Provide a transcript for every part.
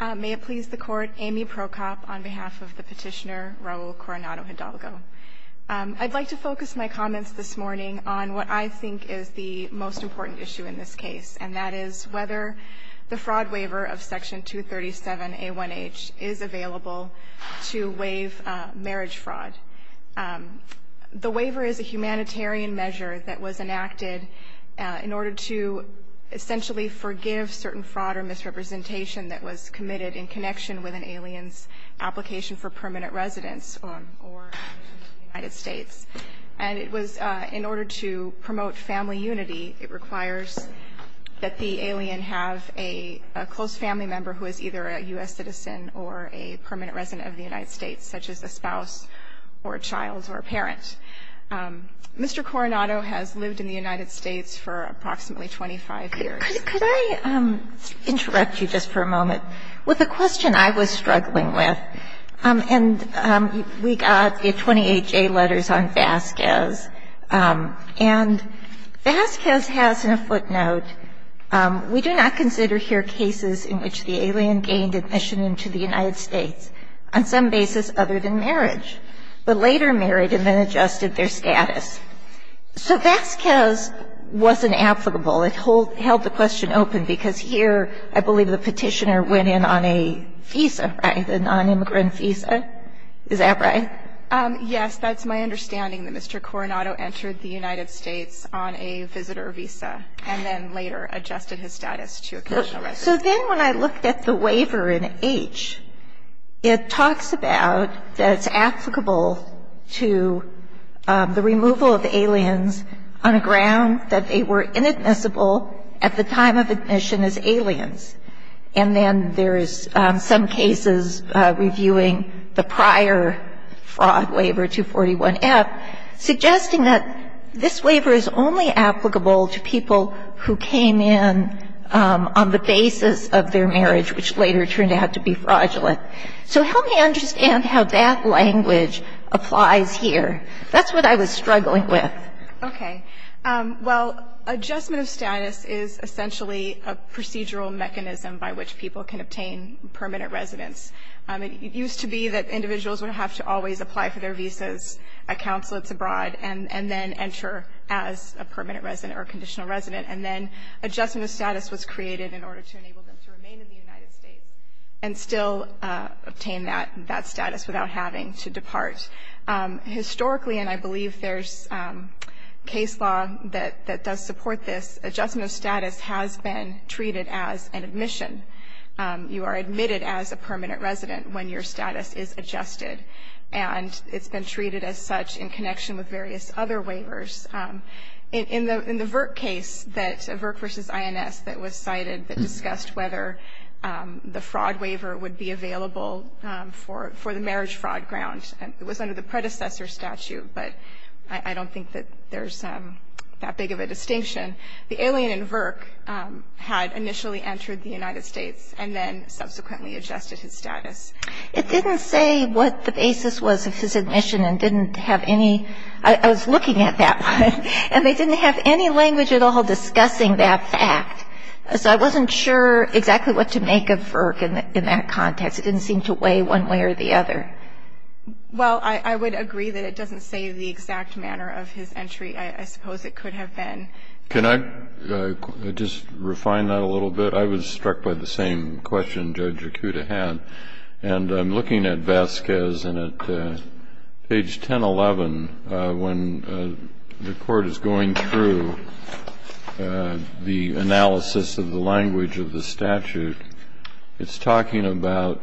May it please the Court, Amy Prokop on behalf of the petitioner Raul Coronado-Hidalgo. I'd like to focus my comments this morning on what I think is the most important issue in this case, and that is whether the fraud waiver of Section 237A1H is available to waive marriage fraud. The waiver is a humanitarian measure that was enacted in order to essentially forgive certain fraud or misrepresentation that was committed in connection with an alien's application for permanent residence or in the United States. And it was in order to promote family unity, it requires that the alien have a close family member who is either a U.S. citizen or child or parent. Mr. Coronado has lived in the United States for approximately 25 years. Could I interrupt you just for a moment with a question I was struggling with? And we got the 28J letters on Vasquez. And Vasquez has in a footnote, we do not consider here cases in which the alien gained admission into the United States on some basis other than marriage, but later married and then adjusted their status. So Vasquez wasn't applicable. It held the question open because here I believe the petitioner went in on a visa, right, a nonimmigrant visa. Is that right? Yes, that's my understanding, that Mr. Coronado entered the United States on a visitor visa and then later adjusted his status to occasional residence. So then when I looked at the waiver in H, it talks about that it's applicable to the removal of aliens on a ground that they were inadmissible at the time of admission as aliens. And then there is some cases reviewing the prior fraud waiver, 241F, suggesting that this waiver is only applicable to people who came in on the basis of their marriage, which later turned out to be fraudulent. So help me understand how that language applies here. That's what I was struggling with. Okay. Well, adjustment of status is essentially a procedural mechanism by which people can obtain permanent residence. It used to be that individuals would have to always apply for their visas at consulates abroad and then enter as a permanent resident or conditional resident. And then adjustment of status was created in order to enable them to remain in the United States and still obtain that status without having to depart. Historically, and I believe there's case law that does support this, adjustment of status has been treated as an admission. You are admitted as a permanent resident when your status is adjusted. And it's been treated as such in connection with various other waivers. In the Virk case that Virk v. INS that was cited that discussed whether the fraud waiver would be available for the marriage fraud grounds, it was under the predecessor statute, but I don't think that there's that big of a distinction. The alien in Virk had initially entered the United States and then subsequently adjusted his status. It didn't say what the basis was of his admission and didn't have any. I was looking at that one. And they didn't have any language at all discussing that fact. So I wasn't sure exactly what to make of Virk in that context. It didn't seem to weigh one way or the other. Well, I would agree that it doesn't say the exact manner of his entry. I suppose it could have been. Can I just refine that a little bit? I was struck by the same question Judge Yakuta had. And I'm looking at Vasquez. And at page 1011, when the court is going through the analysis of the language of the statute, it's talking about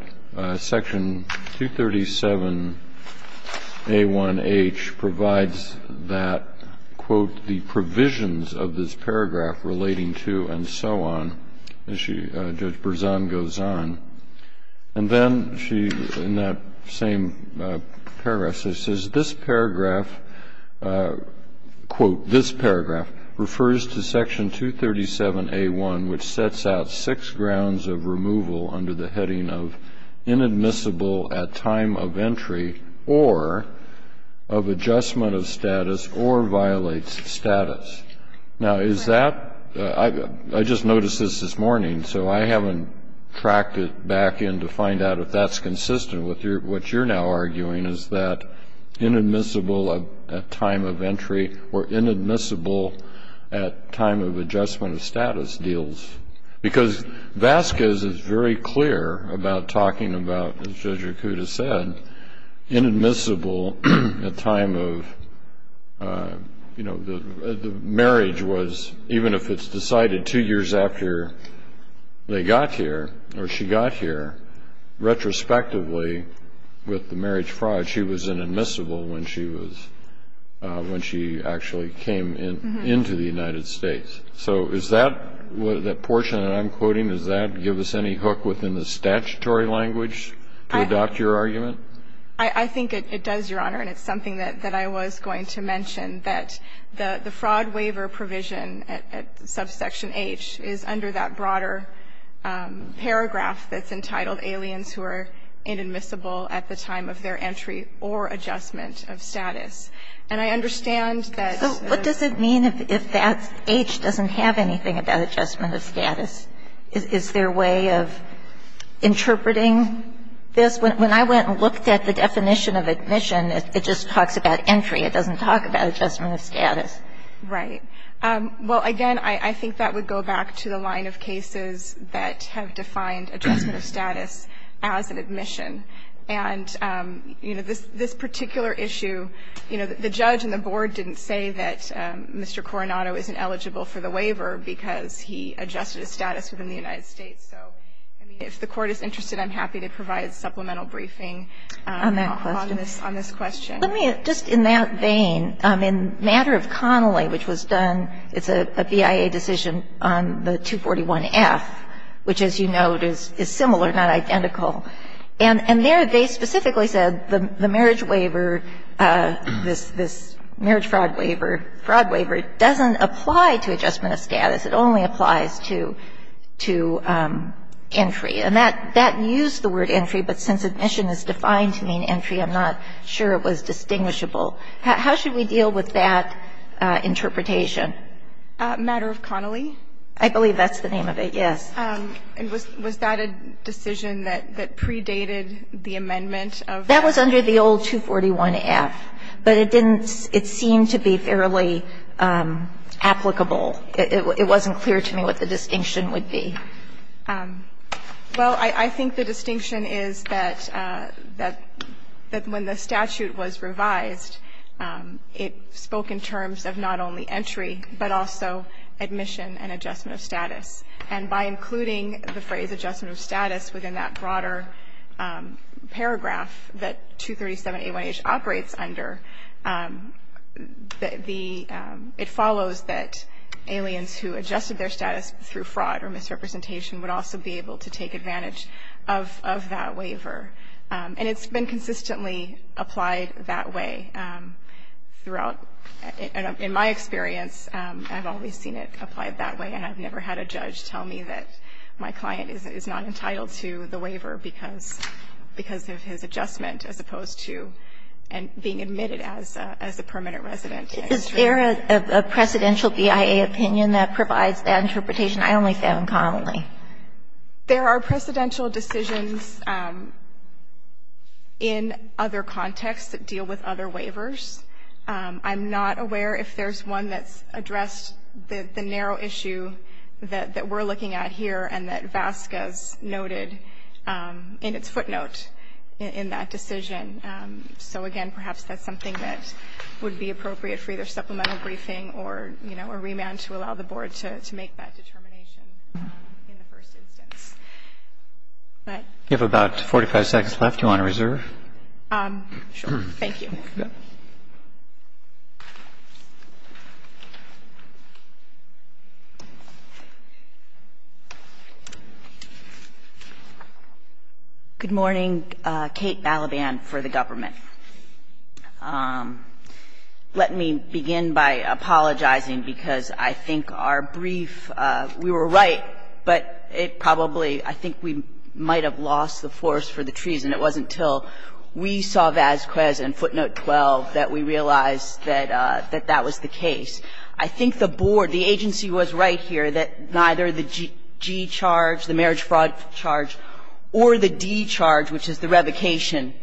section 237A1H provides that, quote, the provisions of this paragraph relating to and so on. Judge Berzon goes on. And then she, in that same paragraph, she says, this paragraph, quote, this paragraph refers to section 237A1, which sets out six grounds of removal under the heading of inadmissible at time of entry or of adjustment of status or violates status. I just noticed this this morning. So I haven't tracked it back in to find out if that's consistent with what you're now arguing, is that inadmissible at time of entry or inadmissible at time of adjustment of status deals. Because Vasquez is very clear about talking about, as Judge Yakuta said, inadmissible at time of, you know, the marriage was, even if it's decided two years after they got here or she got here, retrospectively, with the marriage fraud, she was inadmissible when she actually came into the United States. So is that portion that I'm quoting, does that give us any hook within the I think it does, Your Honor. And it's something that I was going to mention, that the fraud waiver provision at subsection H is under that broader paragraph that's entitled aliens who are inadmissible at the time of their entry or adjustment of status. And I understand that the So what does it mean if that H doesn't have anything about adjustment of status? Is there a way of interpreting this? When I went and looked at the definition of admission, it just talks about entry. It doesn't talk about adjustment of status. Right. Well, again, I think that would go back to the line of cases that have defined adjustment of status as an admission. And, you know, this particular issue, you know, the judge and the board didn't say that Mr. Coronado isn't eligible for the waiver because he adjusted his status within the United States. So, I mean, if the Court is interested, I'm happy to provide a supplemental briefing on this question. On that question. Let me, just in that vein, in matter of Connolly, which was done, it's a BIA decision on the 241F, which, as you note, is similar, not identical. And there they specifically said the marriage waiver, this marriage fraud waiver, fraud waiver doesn't apply to adjustment of status. It only applies to entry. And that used the word entry, but since admission is defined to mean entry, I'm not sure it was distinguishable. How should we deal with that interpretation? Matter of Connolly? I believe that's the name of it, yes. Was that a decision that predated the amendment of that? That was under the old 241F, but it didn't seem to be fairly applicable. It wasn't clear to me what the distinction would be. Well, I think the distinction is that when the statute was revised, it spoke in terms of not only entry, but also admission and adjustment of status. And by including the phrase adjustment of status within that broader paragraph that 237A1H operates under, it follows that aliens who adjusted their status through fraud or misrepresentation would also be able to take advantage of that waiver. And it's been consistently applied that way throughout. In my experience, I've always seen it applied that way, and I've never had a judge tell me that my client is not entitled to the waiver because of his adjustment as opposed to being admitted as a permanent resident. Is there a precedential BIA opinion that provides that interpretation? I only found Connolly. There are precedential decisions in other contexts that deal with other waivers. I'm not aware if there's one that's addressed the narrow issue that we're looking at here and that VASCA's noted in its footnote in that decision. So, again, perhaps that's something that would be appropriate for either supplemental briefing or, you know, a remand to allow the Board to make that determination in the first instance. You have about 45 seconds left. Do you want to reserve? Sure. Thank you. Good morning. Kate Balaban for the government. Let me begin by apologizing because I think our brief, we were right, but it probably I think we might have lost the force for the treason. It wasn't until we saw VASQA's in footnote 12 that we realized that that was the case. I think the Board, the agency was right here that neither the G charge, the marriage fraud charge, or the D charge, which is the revocation,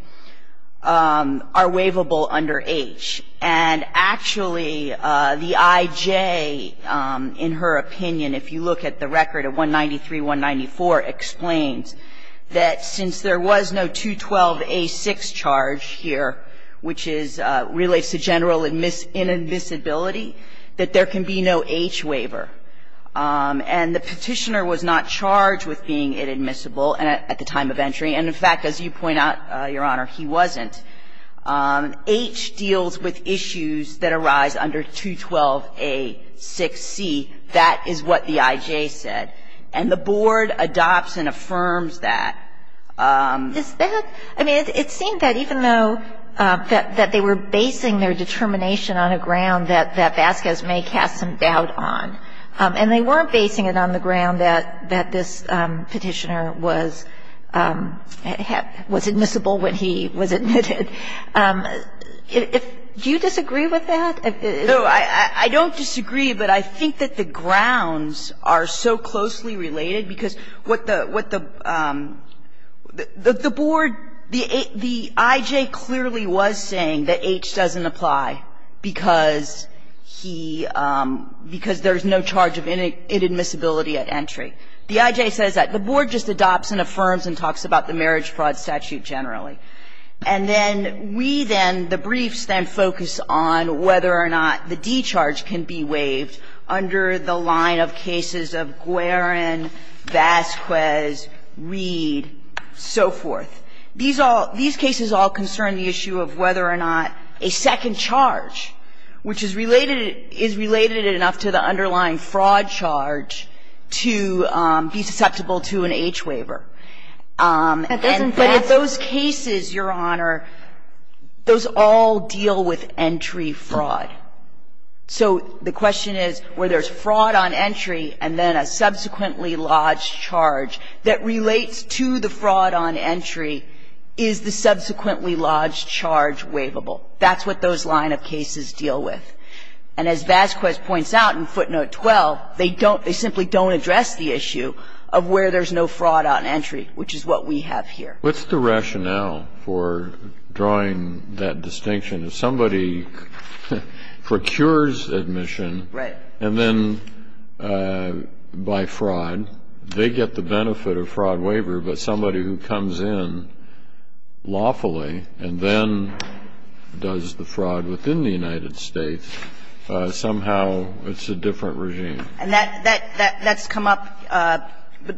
are waivable under H. And actually, the I.J., in her opinion, if you look at the record of 193.194, explains that since there was no 212a6 charge here, which is, relates to general inadmissibility, that there can be no H waiver. And the Petitioner was not charged with being inadmissible at the time of entry. And, in fact, as you point out, Your Honor, he wasn't. H deals with issues that arise under 212a6c. That is what the I.J. said. And the Board adopts and affirms that. I mean, it seemed that even though that they were basing their determination on a ground that VASQA's may cast some doubt on, and they weren't basing it on the Do you disagree with that? No, I don't disagree, but I think that the grounds are so closely related, because what the Board, the I.J. clearly was saying that H doesn't apply because he, because there's no charge of inadmissibility at entry. The I.J. says that. The Board just adopts and affirms and talks about the marriage fraud statute generally. And then we then, the briefs then focus on whether or not the D charge can be waived under the line of cases of Guerin, VASQA's, Reed, so forth. These all, these cases all concern the issue of whether or not a second charge, which is related, is related enough to the underlying fraud charge to be susceptible to an H waiver. And those cases, Your Honor, those all deal with entry fraud. So the question is, where there's fraud on entry and then a subsequently lodged charge that relates to the fraud on entry, is the subsequently lodged charge waivable? That's what those line of cases deal with. And as VASQA's points out in footnote 12, they don't, they simply don't address the issue of where there's no fraud on entry, which is what we have here. Kennedy, what's the rationale for drawing that distinction? If somebody procures admission and then, by fraud, they get the benefit of fraud waiver, but somebody who comes in lawfully and then does the fraud within the United States, somehow it's a different regime. And that, that's come up.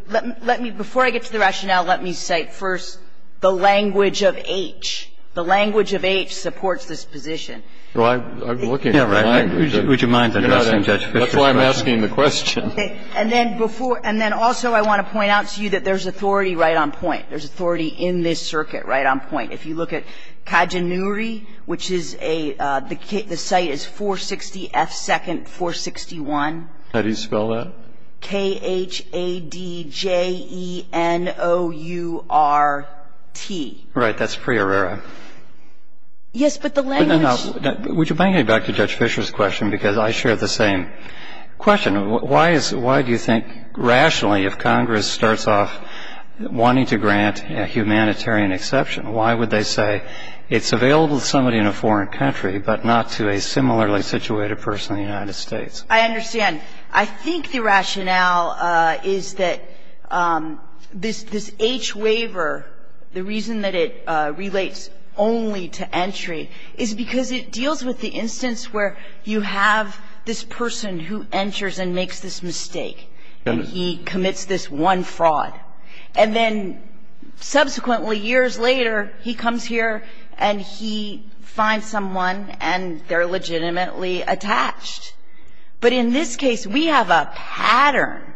Let me, before I get to the rationale, let me cite first the language of H. The language of H supports this position. Well, I'm looking for the language of H. Would you mind addressing Judge Fischer's question? That's why I'm asking the question. And then before, and then also I want to point out to you that there's authority right on point. There's authority in this circuit right on point. If you look at Kajanuri, which is a, the site is 460F2nd461. How do you spell that? K-H-A-D-J-E-N-O-U-R-T. Right. That's Priorura. Yes, but the language But now, would you mind getting back to Judge Fischer's question, because I share the same question. Why is, why do you think, rationally, if Congress starts off wanting to grant a humanitarian exception, why would they say it's available to somebody in a foreign country, but not to a similarly situated person in the United States? I understand. I think the rationale is that this H waiver, the reason that it relates only to entry is because it deals with the instance where you have this person who enters and makes this mistake, and he commits this one fraud. And then subsequently, years later, he comes here, and he finds someone, and they're legitimately attached. But in this case, we have a pattern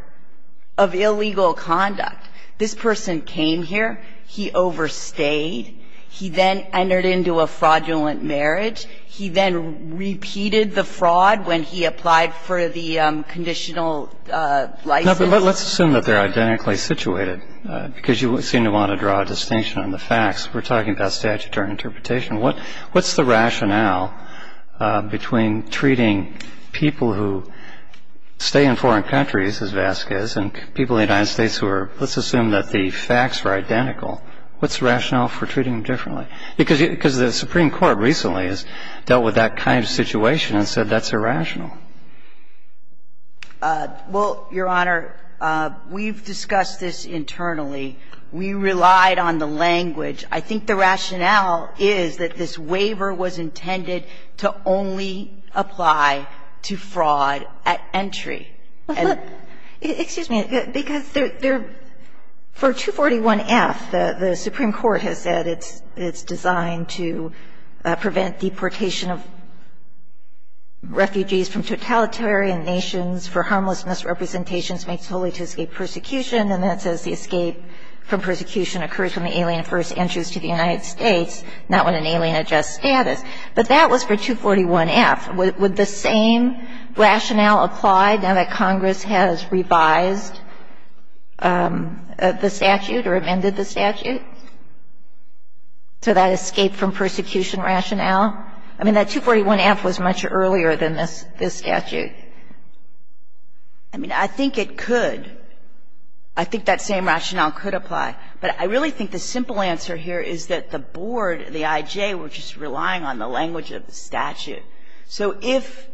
of illegal conduct. This person came here, he overstayed, he then entered into a fraudulent marriage, he then repeated the fraud when he applied for the conditional license. Now, let's assume that they're identically situated, because you seem to want to draw a distinction on the facts. We're talking about statutory interpretation. What's the rationale between treating people who stay in foreign countries, as Vasquez, and people in the United States who are, let's assume that the facts are identical, what's the rationale for treating them differently? Because the Supreme Court recently has dealt with that kind of situation and said that's irrational. Well, Your Honor, we've discussed this internally. We relied on the language. I think the rationale is that this waiver was intended to only apply to fraud at entry. And the other thing is that the Supreme Court has said it's designed to prevent deportation of refugees from totalitarian nations for harmless misrepresentations made solely to escape persecution. And that says the escape from persecution occurs when the alien first enters to the United States, not when an alien adjusts status. But that was for 241F. Would the same rationale apply now that Congress has revised the statute or amended the statute? So that escape from persecution rationale? I mean, that 241F was much earlier than this statute. I mean, I think it could. I think that same rationale could apply. But I really think the simple answer here is that the board, the I.J., were just relying on the language of the statute. So if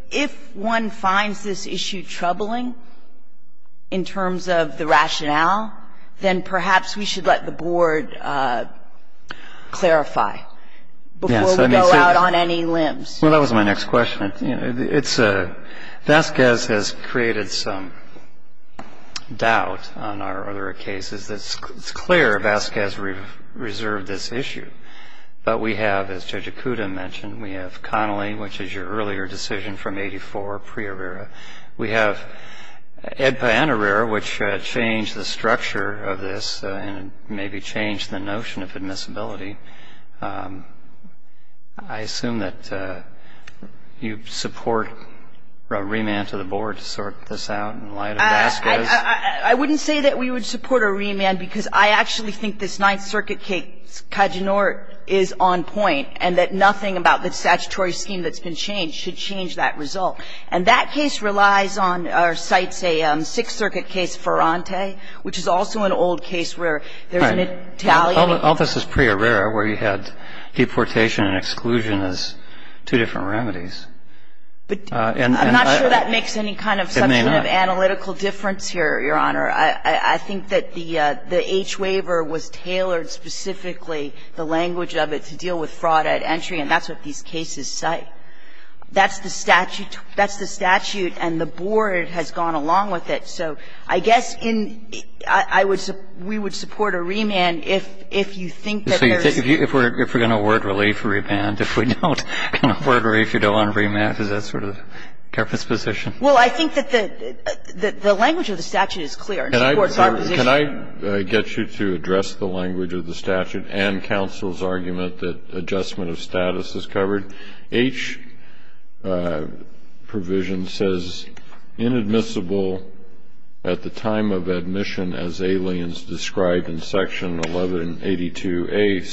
one finds this issue troubling in terms of the rationale, then perhaps we should let the board clarify before we go out on any limbs. Well, that was my next question. Vazquez has created some doubt on our other cases. It's clear Vazquez reserved this issue. But we have, as Judge Ikuda mentioned, we have Connolly, which is your earlier decision from 84, pre-Arrera. We have Edpa and Arrera, which changed the structure of this and maybe changed the notion of admissibility. I assume that you support a remand to the board to sort this out in light of Vazquez? I wouldn't say that we would support a remand, because I actually think this Ninth Circuit case, Cajonor, is on point, and that nothing about the statutory scheme that's been changed should change that result. And that case relies on or cites a Sixth Circuit case, Ferrante, which is also an old case where there's an Italian. All this is pre-Arrera where you had deportation and exclusion as two different remedies. I'm not sure that makes any kind of substantive analytical difference here, Your Honor. I think that the H waiver was tailored specifically, the language of it, to deal with fraud at entry, and that's what these cases cite. That's the statute, and the board has gone along with it. So I guess in the end, I would say we would support a remand if you think that there's So you think if we're going to award relief, a remand. If we don't, an award relief, you don't want a remand. Is that sort of the government's position? Well, I think that the language of the statute is clear and supports our position. Can I get you to address the language of the statute and counsel's argument that adjustment of status is covered? H provision says inadmissible at the time of admission as aliens described in section 1182A6CI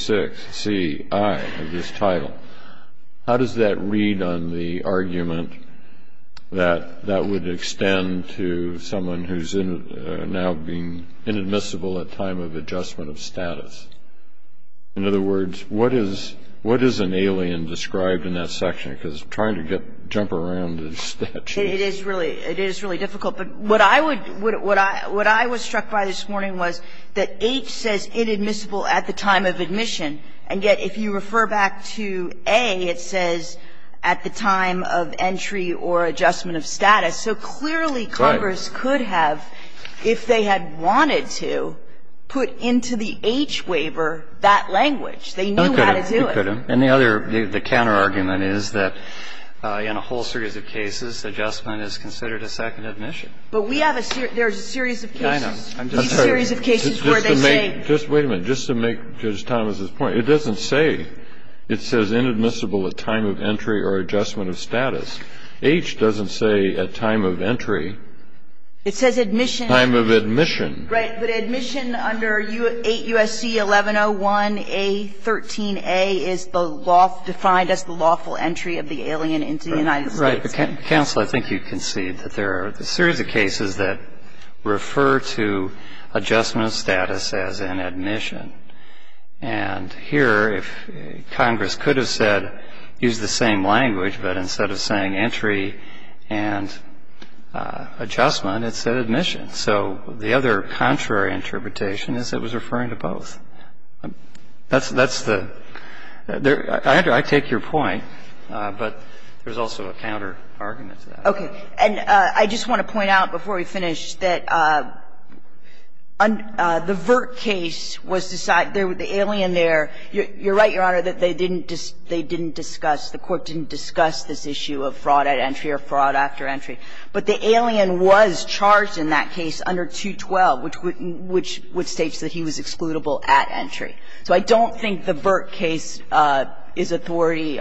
of this title. How does that read on the argument that that would extend to someone who's now being inadmissible at time of adjustment of status? In other words, what is an alien described in that section? Because trying to jump around the statute. It is really difficult. But what I would struck by this morning was that H says inadmissible at the time of admission, and yet if you refer back to A, it says at the time of entry or adjustment of status. So clearly Congress could have, if they had wanted to, put into the H waiver that language. They knew how to do it. And the other, the counterargument is that in a whole series of cases, adjustment is considered a second admission. But we have a series, there's a series of cases. I'm sorry. A series of cases where they say. Just wait a minute. Just to make Justice Thomas's point. It doesn't say. It says inadmissible at time of entry or adjustment of status. H doesn't say at time of entry. It says admission. Time of admission. Right. But admission under 8 U.S.C. 1101A13A is the law, defined as the lawful entry of the alien into the United States. Right. Counsel, I think you can see that there are a series of cases that refer to adjustment of status as an admission. And here, if Congress could have said, use the same language, but instead of saying entry and adjustment, it said admission. So the other contrary interpretation is it was referring to both. That's the ‑‑ I take your point, but there's also a counterargument to that. Okay. And I just want to point out before we finish that the VRT case was designed ‑‑ the alien there, you're right, Your Honor, that they didn't discuss, the court didn't discuss this issue of fraud at entry or fraud after entry. But the alien was charged in that case under 212, which states that he was excludable at entry. So I don't think the VRT case is authority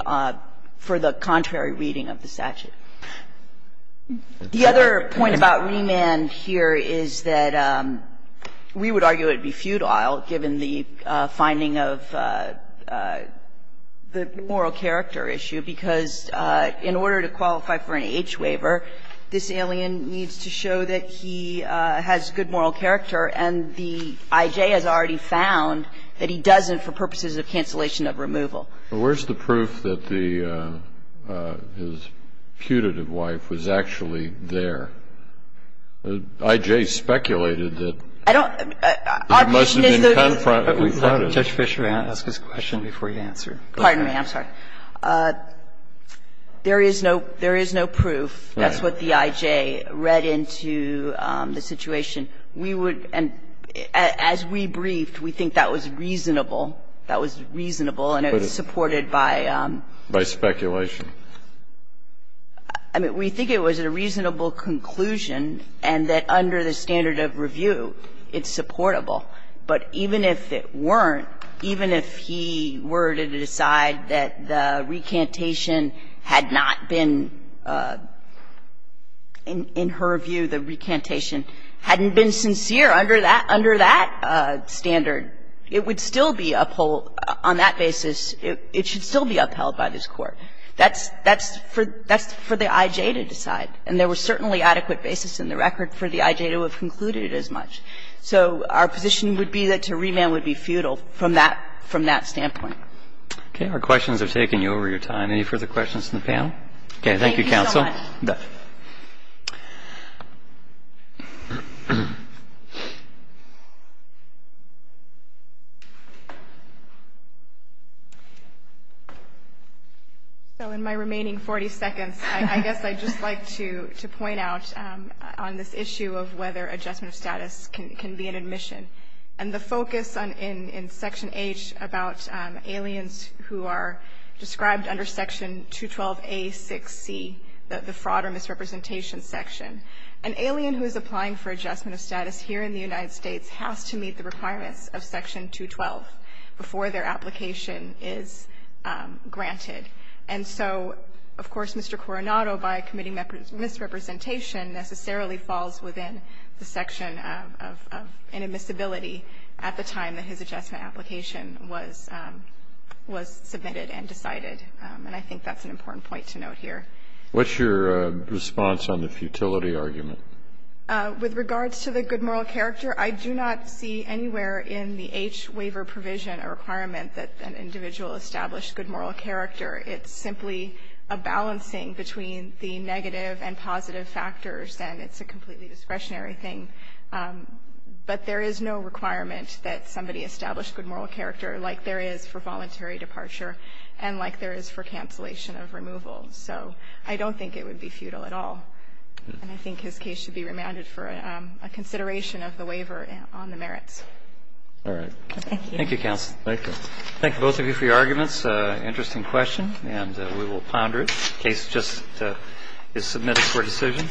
for the contrary reading of the statute. The other point about remand here is that we would argue it would be futile, given the finding of the moral character issue, because in order to qualify for an age waiver, this alien needs to show that he has good moral character, and the I.J. has already found that he doesn't for purposes of cancellation of removal. But where's the proof that the ‑‑ his putative wife was actually there? The I.J. speculated that ‑‑ I don't ‑‑ our position is that ‑‑ Judge Fisher, may I ask this question before you answer? Pardon me. I'm sorry. There is no proof. That's what the I.J. read into the situation. We would ‑‑ and as we briefed, we think that was reasonable. That was reasonable, and it was supported by ‑‑ By speculation. I mean, we think it was a reasonable conclusion, and that under the standard of review, it's supportable. But even if it weren't, even if he were to decide that the recantation had not been ‑‑ in her view, the recantation hadn't been sincere under that standard, it would still be upheld on that basis. It should still be upheld by this Court. That's for the I.J. to decide. And there was certainly adequate basis in the record for the I.J. to have concluded as much. So our position would be that to remand would be futile from that standpoint. Okay. Our questions are taking you over your time. Any further questions from the panel? Okay. Thank you, counsel. Thank you so much. So in my remaining 40 seconds, I guess I'd just like to point out on this issue of whether adjustment of status can be an admission. And the focus in section H about aliens who are described under section 212A6C, that the fraud or misrepresentation section. An alien who is applying for adjustment of status here in the United States has to meet the requirements of section 212 before their application is granted. And so, of course, Mr. Coronado, by committing misrepresentation, necessarily falls within the section of inadmissibility at the time that his adjustment application was submitted and decided. And I think that's an important point to note here. What's your response on the futility argument? With regards to the good moral character, I do not see anywhere in the H waiver provision a requirement that an individual establish good moral character. It's simply a balancing between the negative and positive factors, and it's a completely discretionary thing. But there is no requirement that somebody establish good moral character like there is for voluntary departure and like there is for cancellation of removal. So I don't think it would be futile at all. And I think his case should be remanded for a consideration of the waiver on the merits. All right. Thank you. Thank you, counsel. Thank you. Thank you both of you for your arguments. Interesting question, and we will ponder it in case it just is submitted for decision.